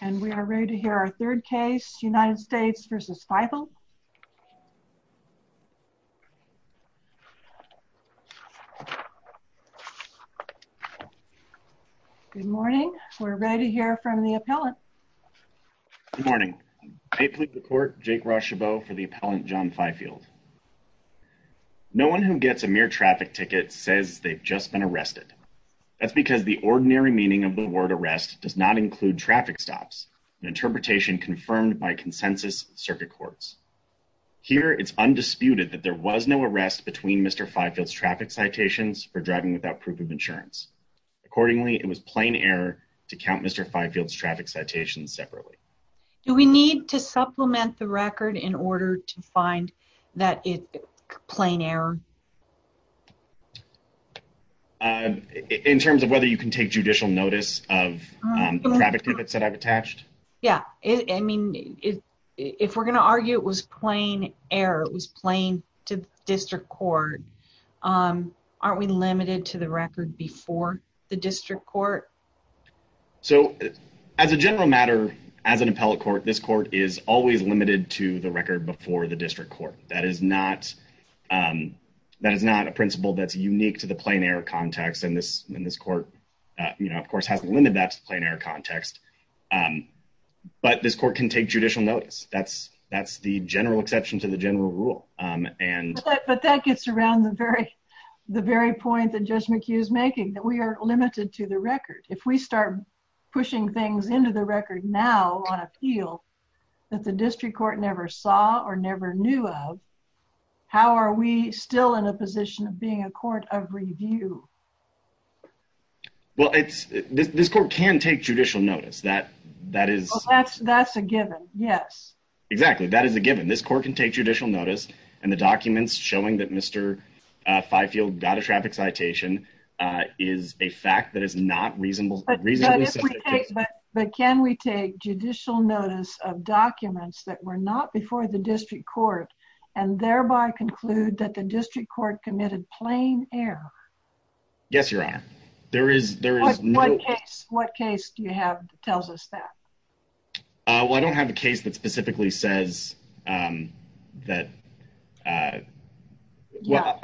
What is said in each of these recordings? and we are ready to hear our third case United States versus Fifield. Good morning. We're ready to hear from the appellant. Good morning. I plead the court Jake Rochebeau for the appellant John Fifield. No one who gets a mere traffic ticket says they've just been arrested. That's because the ordinary meaning of the word arrest does not include traffic stops. An interpretation confirmed by consensus circuit courts. Here it's undisputed that there was no arrest between Mr. Fifield's traffic citations for driving without proof of insurance. Accordingly, it was plain error to count Mr. Fifield's traffic citations separately. Do we need to supplement the record in order to find that it's plain error? In terms of whether you can take judicial notice of traffic tickets that I've attached? Yeah, I mean if we're gonna argue it was plain error, it was plain to the district court, aren't we limited to the record before the district court? So as a general matter, as an appellate court, this court is always limited to the record. That is not a principle that's unique to the plain error context and this in this court, you know, of course hasn't limited that to the plain error context. But this court can take judicial notice. That's the general exception to the general rule. But that gets around the very point that Judge McHugh is making, that we are limited to the record. If we start pushing things into the record now on appeal that the district court never saw or never knew of, how are we still in a position of being a court of review? Well, it's this court can take judicial notice that that is that's that's a given. Yes, exactly. That is a given. This court can take judicial notice and the documents showing that Mr Fifield got a traffic citation is a fact that is not reasonable. But can we take judicial notice of documents that were not before the district court and thereby conclude that the district court committed plain error? Yes, your honor. There is. There is one case. What case do you have that tells us that? Well, I don't have a case that specifically says, um, that, uh, well,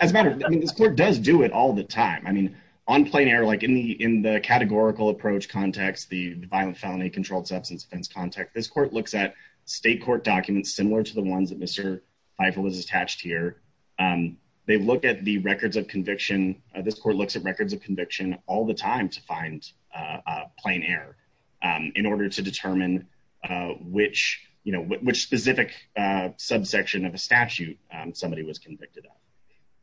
as a matter of this court does do it all the time. I mean, on plain error, like in the in the categorical approach context, the violent felony controlled substance offense context, this court looks at state court documents similar to the ones that Mr Fifield is attached here. Um, they look at the records of conviction. This court looks at records of conviction all the time to find, uh, plain air, um, in order to determine, uh, which, you know, which specific, uh, subsection of a statute somebody was convicted of.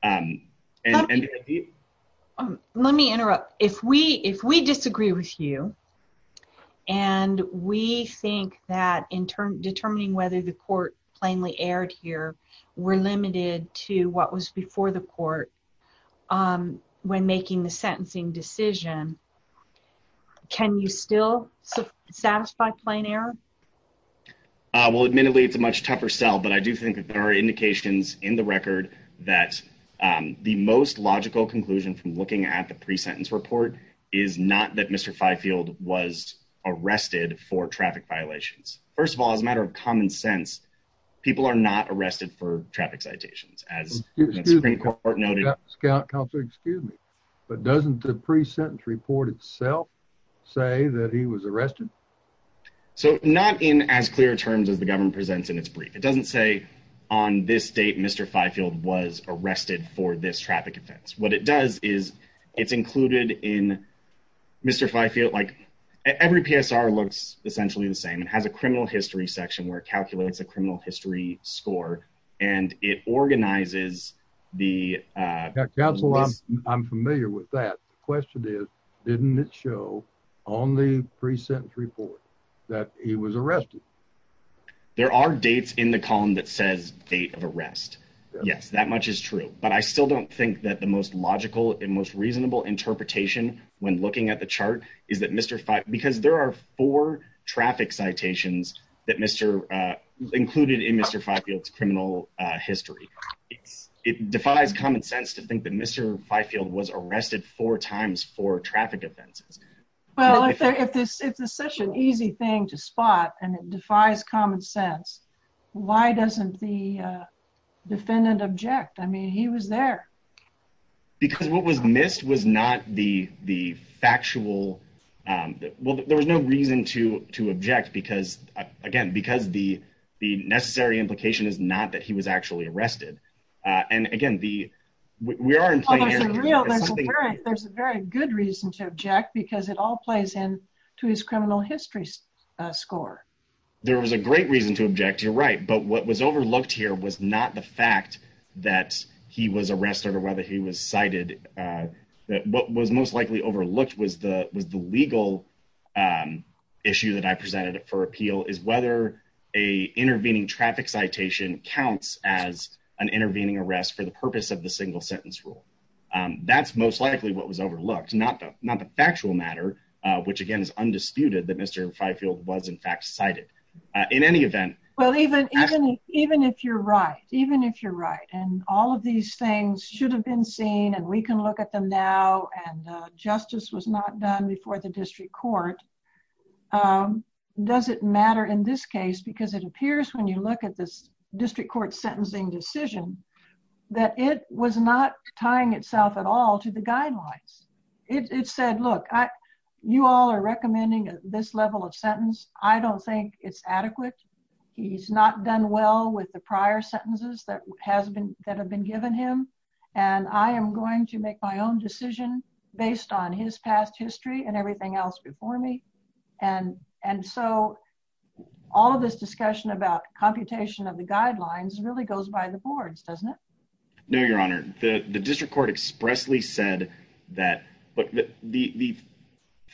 Um, and let me interrupt. If we if we disagree with you and we think that in determining whether the court plainly aired here, we're limited to what was before the court. Um, when making the sentencing decision, can you still satisfy plain error? Well, admittedly, it's a much tougher sell. But I do think there are logical conclusion from looking at the pre sentence report is not that Mr Fifield was arrested for traffic violations. First of all, as a matter of common sense, people are not arrested for traffic citations. As you're in court noted, excuse me, but doesn't the pre sentence report itself say that he was arrested? So not in as clear terms of the government presents in its brief. It doesn't say on this date, Mr Fifield was arrested for this traffic offense. What it does is it's included in Mr Fifield. Like every PSR looks essentially the same. It has a criminal history section where it calculates a criminal history score, and it organizes the council. I'm familiar with that. Question is, didn't it show on the pre sentence report that he was arrested? There are dates in the column that says date of arrest. Yes, that much is true. But I still don't think that the most logical and most reasonable interpretation when looking at the chart is that Mr because there are four traffic citations that Mr included in Mr Fifield's criminal history. It defies common sense to think that Mr Fifield was arrested four times for traffic offenses. Well, if it's such an easy thing to spot and defies common sense, why doesn't the defendant object? I mean, he was there because what was missed was not the factual. Well, there was no reason to object because again, because the necessary implication is not that he was actually arrested. And again, we are in play. There's a very good reason to score. There was a great reason to object. You're right. But what was overlooked here was not the fact that he was arrested or whether he was cited. Uh, what was most likely overlooked was the was the legal, um, issue that I presented for appeal is whether a intervening traffic citation counts as an intervening arrest for the purpose of the single sentence rule. Um, that's most likely what was overlooked, not not the factual matter, which again is why I feel was in fact cited in any event. Well, even even even if you're right, even if you're right and all of these things should have been seen and we can look at them now and justice was not done before the district court. Um, does it matter in this case? Because it appears when you look at this district court sentencing decision that it was not tying itself at all to the sentence. I don't think it's adequate. He's not done well with the prior sentences that has been that have been given him. And I am going to make my own decision based on his past history and everything else before me. And and so all of this discussion about computation of the guidelines really goes by the boards, doesn't it? No, Your Honor. The district court expressly said that, but the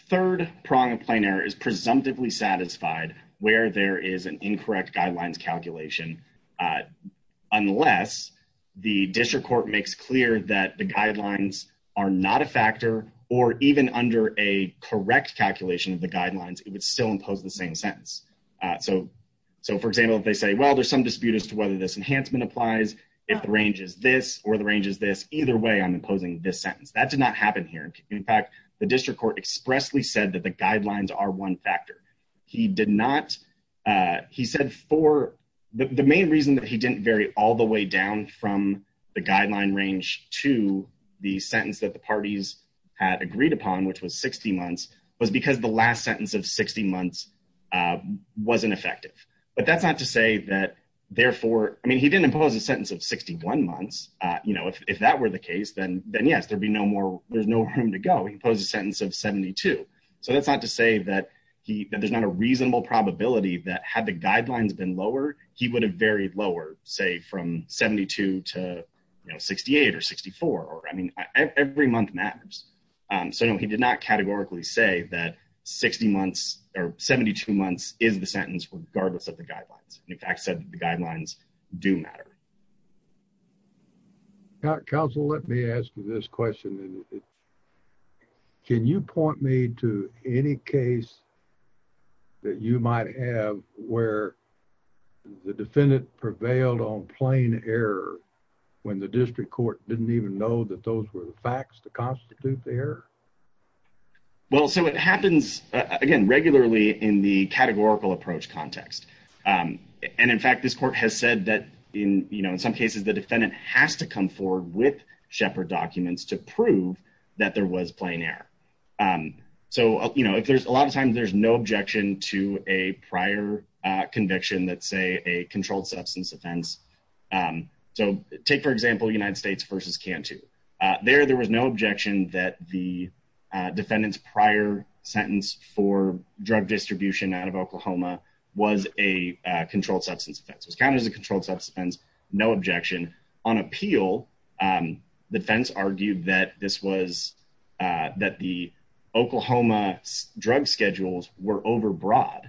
third prong of plane air is presumptively satisfied where there is an incorrect guidelines calculation. Uh, unless the district court makes clear that the guidelines are not a factor or even under a correct calculation of the guidelines, it would still impose the same sentence. Uh, so so, for example, if they say, well, there's some dispute as to whether this enhancement applies if the range is this or the range is this. Either way, I'm imposing this sentence. That did not happen here. In fact, the district court expressly said that the guidelines are one factor. He did not. Uh, he said for the main reason that he didn't vary all the way down from the guideline range to the sentence that the parties had agreed upon, which was 60 months was because the last sentence of 60 months, uh, wasn't effective. But that's not to say that, therefore, I mean, he didn't impose a that were the case, then, then, yes, there'd be no more. There's no room to go. He posed a sentence of 72. So that's not to say that there's not a reasonable probability that had the guidelines been lower, he would have varied lower, say, from 72 to 68 or 64 or I mean, every month matters. Um, so no, he did not categorically say that 60 months or 72 months is the sentence regardless of the guidelines. In fact, said the guidelines do matter. Council. Let me ask you this question. Can you point me to any case that you might have where the defendant prevailed on plane error when the district court didn't even know that those were the facts to constitute there? Well, so it happens again regularly in the categorical approach context. Um, cases, the defendant has to come forward with shepherd documents to prove that there was playing air. Um, so, you know, if there's a lot of times, there's no objection to a prior conviction that say a controlled substance offense. Um, so take, for example, the United States versus can't to there. There was no objection that the defendant's prior sentence for drug distribution out of Oklahoma was a controlled substance offense was counted as a controlled substance. No objection on appeal. Um, defense argued that this was, uh, that the Oklahoma drug schedules were overbroad.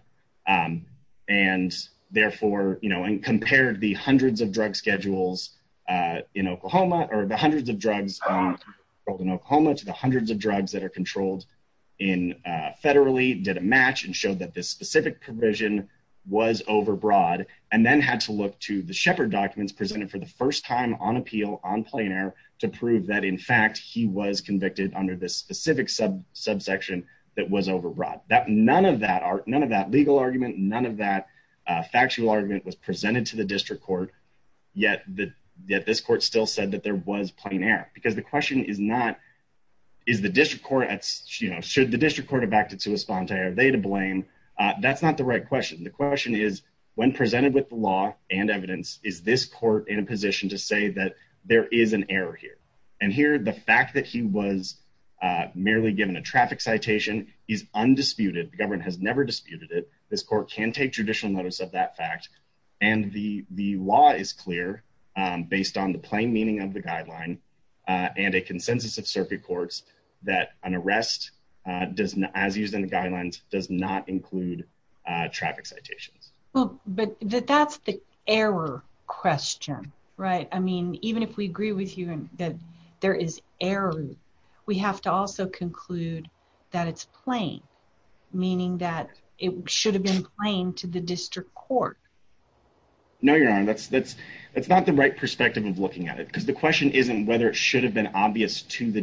Um, and therefore, you know, and compared the hundreds of drug schedules, uh, in Oklahoma or the hundreds of drugs in Oklahoma to the hundreds of drugs that are controlled in federally did a match and showed that this specific provision was overbroad and then had to look to the shepherd documents presented for the first time on appeal on plain air to prove that, in fact, he was convicted under this specific sub subsection that was overbroad. That none of that are none of that legal argument. None of that factual argument was presented to the district court. Yet this court still said that there was playing air because the question is not is the district court. That's you know, the district court of back to to respond to. Are they to blame? That's not the right question. The question is, when presented with the law and evidence, is this court in a position to say that there is an error here and here? The fact that he was merely given a traffic citation is undisputed. The government has never disputed it. This court can take judicial notice of that fact, and the law is clear based on the plain meaning of the guideline and a does as used in the guidelines does not include traffic citations. But that's the error question, right? I mean, even if we agree with you that there is error, we have to also conclude that it's playing, meaning that it should have been playing to the district court. No, you're on. That's that's That's not the right perspective of looking at it because the question isn't whether it should have been obvious to the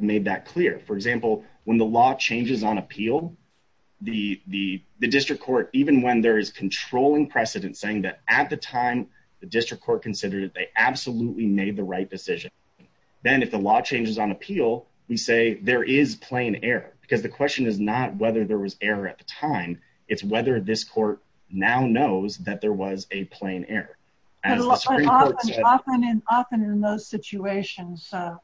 made that clear. For example, when the law changes on appeal, the district court, even when there is controlling precedent, saying that at the time the district court considered it, they absolutely made the right decision. Then if the law changes on appeal, we say there is plain air because the question is not whether there was error at the time. It's whether this court now knows that there was a plain air as often and often in those situations. So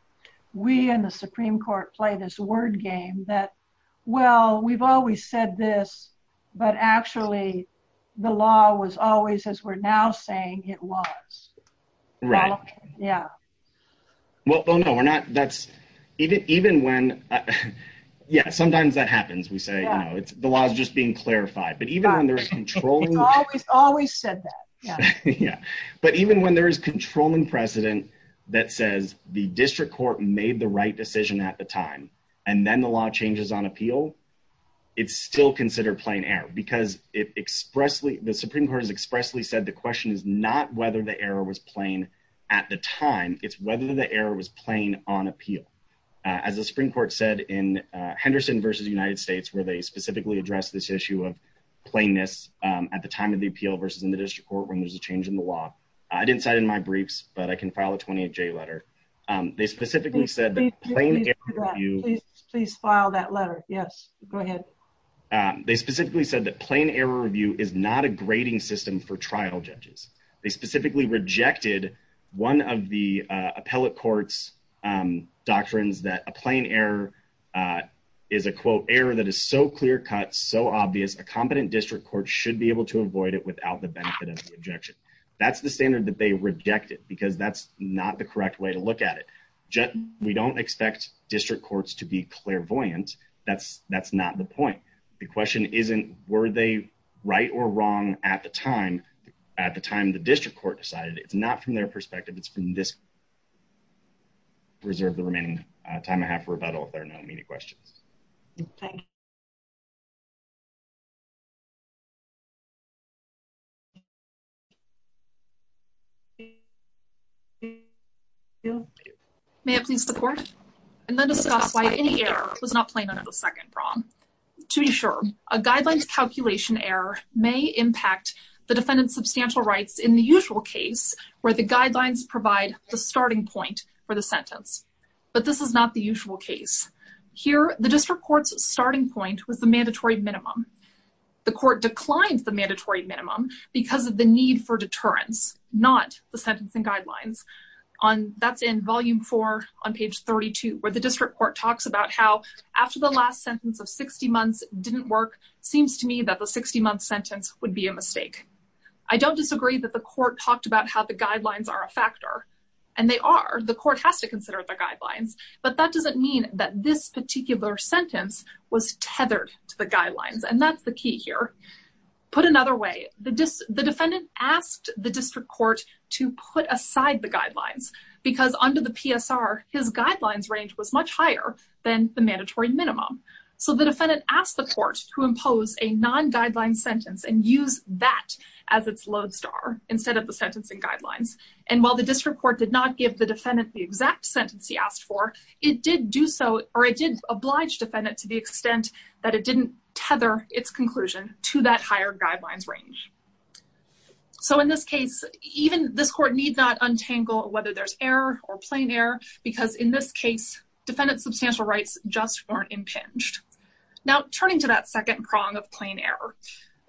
we and the Supreme Court play this word game that well, we've always said this, but actually, the law was always as we're now saying it was, right? Yeah. Well, no, we're not. That's even even when Yeah, sometimes that happens. We say, you know, it's the law is just being clarified. But even when there's control, it's always always said that. Yeah. But even when there is controlling precedent that says the district court made the right decision at the time and then the law changes on appeal, it's still considered plain air because it expressly the Supreme Court has expressly said the question is not whether the error was plain at the time. It's whether the air was playing on appeal. Aziz, the Supreme Court said in Henderson versus United States, where they specifically address this issue of plainness at the time of the appeal versus in the district court. When there's a change in the law, I didn't cite in my briefs, but I can file a 28 J letter. Um, they specifically said the plane. You please file that letter. Yes, go ahead. Um, they specifically said that plain error review is not a grading system for trial judges. They specifically rejected one of the appellate courts. Um, doctrines that a plain air, uh, is a quote error that is so clear cut so obvious. A competent district court should be able to avoid it without the benefit of the objection. That's the standard that they rejected because that's not the correct way to look at it. We don't expect district courts to be clairvoyant. That's that's not the point. The question isn't were they right or wrong at the time. At the time, the district court decided it's not from their perspective. It's been this reserve the remaining time I have for rebuttal. If there are no immediate questions, yeah, yeah. May I please the court and then discuss why any air was not playing another second prom to be sure. A guidelines calculation error may impact the defendant's substantial rights in the usual case where the guidelines provide the starting point for the sentence. But this is not the usual case. Here. The district court's starting point was the mandatory minimum. The court declined the mandatory minimum because of the need for deterrence, not the sentencing guidelines on. That's in volume four on page 32, where the district court talks about how after the last sentence of 60 months didn't work. Seems to me that the 60 month sentence would be a mistake. I don't disagree that the court talked about how the guidelines are a factor, and they are. The court has to consider the guidelines. But that doesn't mean that this particular sentence was tethered to the guidelines, and that's the key here. Put another way, the defendant asked the district court to put aside the guidelines because under the PSR, his guidelines range was much higher than the mandatory minimum. So the defendant asked the court to impose a non guideline sentence and use that as its lodestar instead of the sentencing guidelines. And while the district court did not give the defendant the exact sentence he asked for, it did do so, or it did oblige defendant to the extent that it didn't tether its conclusion to that higher guidelines range. So in this case, even this court need not untangle whether there's error or plain air, because in this case, defendant substantial rights just weren't impinged. Now, turning to that second prong of plain air,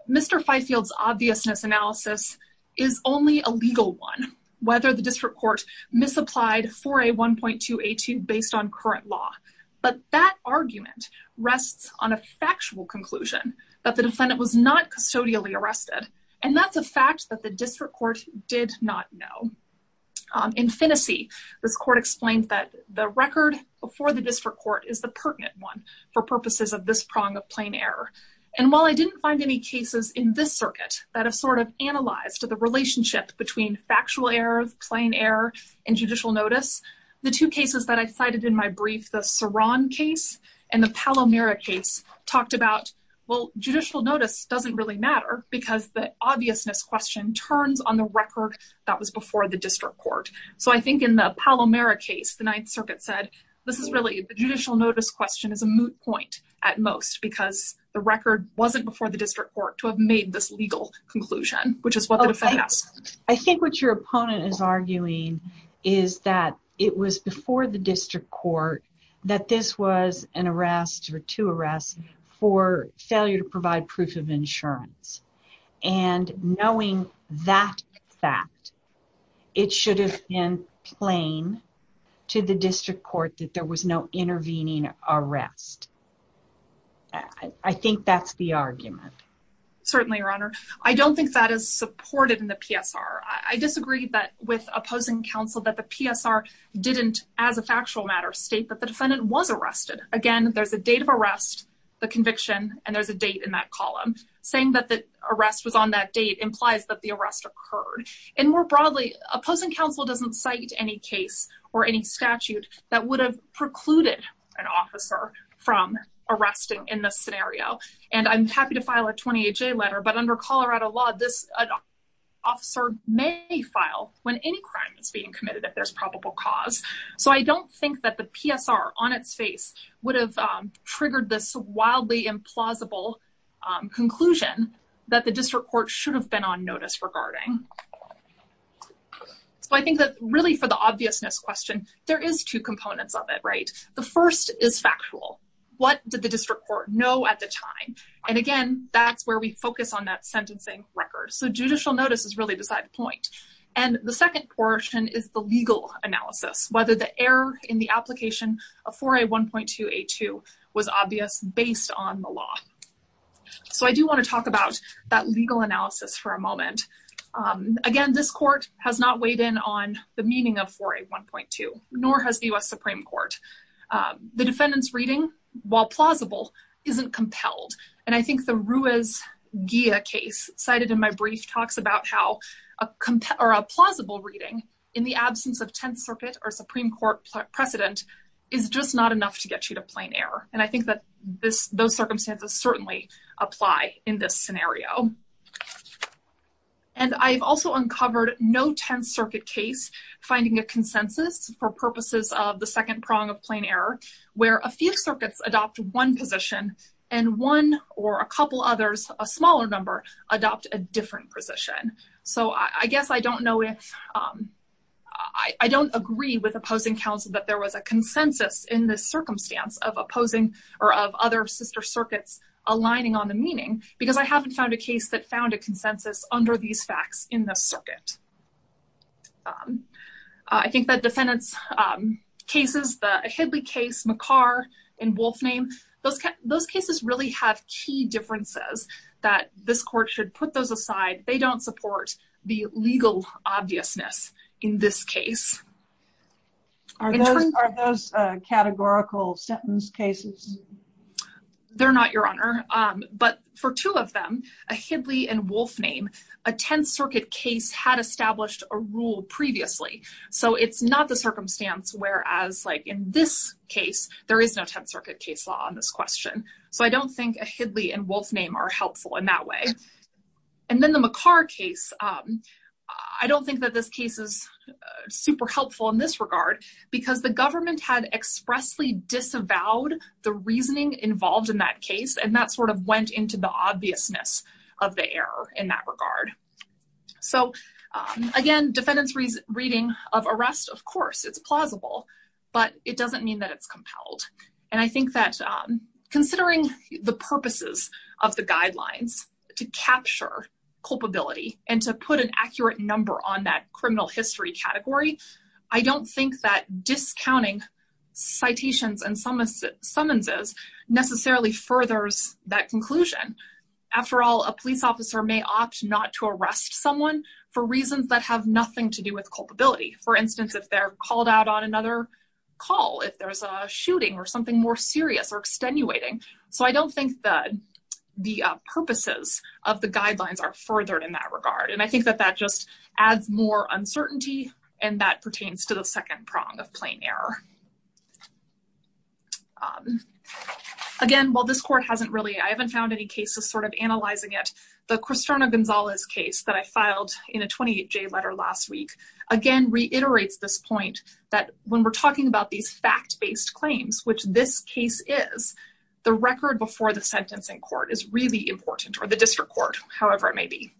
Mr. Fifield's obviousness analysis is only a legal one. Whether the district court misapplied for a 1.282 based on current law. But that argument rests on a factual conclusion that the defendant was not custodially arrested. And that's a fact that the district court did not know. In Tennessee, this court explained that the record before the district court is the pertinent one for purposes of this prong of plain air. And while I didn't find any cases in this circuit that have sort of analyzed the relationship between factual errors, plain air and judicial notice, the two cases that I cited in my brief, the Saron case and the Palomero case talked about, well, judicial notice doesn't really matter because the obviousness question turns on the record that was before the district court. So I think in the Palomero case, the Ninth Circuit said, this is really the judicial notice question is a moot point at most because the record wasn't before the district court to have made this legal conclusion, which is what I think what your opponent is arguing is that it was before the district court that this was an arrest or two arrests for failure to provide proof of insurance. And knowing that fact, it should have been plain to the district court that there was no intervening arrest. I think that's the argument. Certainly, Your Honor. I don't think that is supported in the PSR. I disagree that with opposing counsel that the PSR didn't, as a factual matter, state that the defendant was arrested. Again, there's a date of arrest, the conviction, and there's a date in that column saying that the arrest was on that date implies that the arrest occurred. And more broadly, opposing counsel doesn't cite any case or any statute that would have precluded an officer from arresting in this scenario. And I'm happy to file a 28 J letter. But under Colorado law, this officer may file when any crime is being committed if there's probable cause. So I don't think that the PSR on its face would have triggered this wildly implausible conclusion that the district court should have been on Really, for the obviousness question, there is two components of it, right? The first is factual. What did the district court know at the time? And again, that's where we focus on that sentencing record. So judicial notice is really beside the point. And the second portion is the legal analysis, whether the error in the application of 4A1.2A2 was obvious based on the law. So I do want to talk about that legal analysis for a moment. Again, this court has not weighed in on the meaning of 4A1.2, nor has the US Supreme Court. The defendant's reading, while plausible, isn't compelled. And I think the Ruiz-Ghia case cited in my brief talks about how a plausible reading in the absence of 10th Circuit or Supreme Court precedent is just not enough to get you to plain error. And I think that those circumstances certainly apply in this scenario. And I've also uncovered no 10th Circuit case finding a consensus for purposes of the second prong of plain error, where a few circuits adopt one position, and one or a couple others, a smaller number, adopt a different position. So I guess I don't know if I don't agree with opposing counsel that there was a consensus in this circumstance of opposing or of other sister circuits aligning on the meaning because I haven't found a case that found a consensus under these facts in the circuit. I think that defendant's cases, the Hidley case, McCarr, and Wolfname, those cases really have key differences that this court should put those aside. They don't support the legal obviousness in this case. Are those categorical sentence cases? They're not, Your Honor. But for two of them, a Hidley and Wolfname, a 10th Circuit case had established a rule previously. So it's not the circumstance whereas like in this case, there is no 10th Circuit case law on this question. So I don't think a Hidley and Wolfname are helpful in that way. And then the McCarr case, I don't think that this case is super helpful in this regard, because the government had expressly disavowed the reasoning involved in that case. And that sort of went into the obviousness of the error in that regard. So, again, defendant's reading of arrest, of course, it's plausible, but it doesn't mean that it's compelled. And I think that considering the purposes of the guidelines to capture culpability and to put an accurate number on that criminal history category, I don't think that discounting citations and summonses necessarily furthers that conclusion. After all, a police officer may opt not to arrest someone for reasons that have nothing to do with culpability. For instance, if they're called out on another call, if there's a shooting or something more serious or extenuating. So I don't think that the purposes of the guidelines are furthered in that regard. And I think that that just adds more uncertainty. And that pertains to the second prong of plain error. Again, while this court hasn't really I haven't found any cases sort of stern of Gonzales case that I filed in a 28 J letter last week, again reiterates this point that when we're talking about these fact based claims, which this case is, the record before the sentencing court is really important or the district court, however, it may be.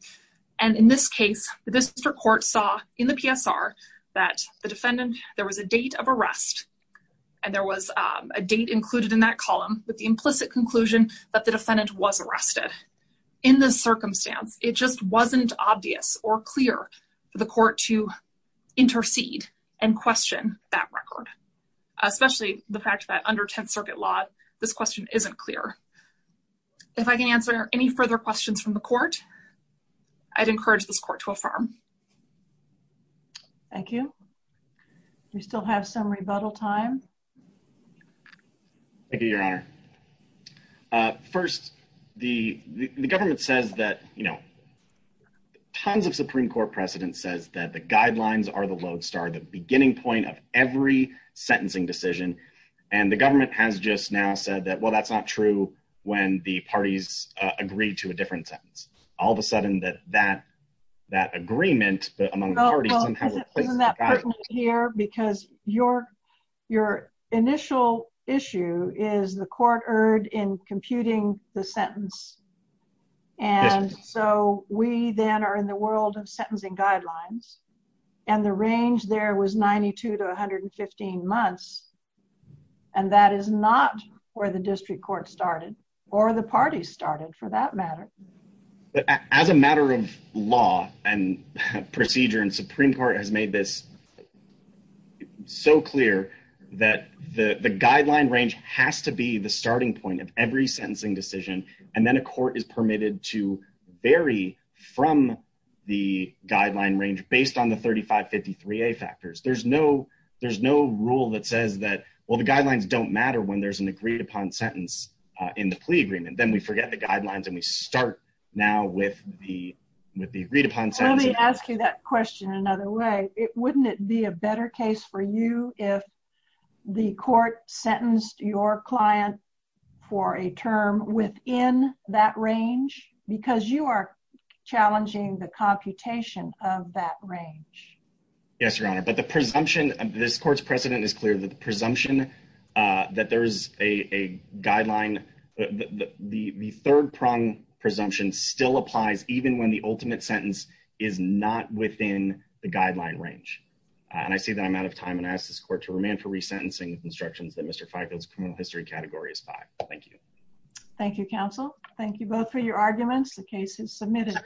And in this case, the district court saw in the PSR, that the defendant, there was a date of arrest. And there was a date was arrested. In this circumstance, it just wasn't obvious or clear for the court to intercede and question that record, especially the fact that under 10th Circuit law, this question isn't clear. If I can answer any further questions from the court, I'd encourage this court to affirm. Thank you. We still have some rebuttal time. Thank you, Your Honor. First, the government says that, you know, tons of Supreme Court precedent says that the guidelines are the lodestar, the beginning point of every sentencing decision. And the government has just now said that, well, that's not true. When the parties agreed to a different sentence, all of a sudden that that that agreement, but among the parties here, because your, your initial issue is the court erred in computing the sentence. And so we then are in the world of sentencing guidelines. And the range there was 92 to 115 months. And that is not where the district court started, or the party started for that matter. But as a matter of law and procedure, and Supreme Court has made this so clear that the guideline range has to be the starting point of every sentencing decision. And then a court is permitted to vary from the guideline range based on the 3553 a factors, there's no, there's no rule that says that, well, the guidelines don't matter when there's an agreed upon sentence in the plea agreement, then we forget the guidelines, and we start now with the with the agreed upon. So let me ask you that question another way, it wouldn't it be a better case for you if the court sentenced your client for a term within that range, because you are challenging the computation of that range? Yes, Your Honor, but the presumption of this court's precedent is clear that presumption that there's a guideline, the third prong presumption still applies even when the ultimate sentence is not within the guideline range. And I see that I'm out of time and ask this court to remain for resentencing instructions that Mr. Feigl's criminal history category is five. Thank you. Thank you, counsel. Thank you both for your arguments. The case is submitted.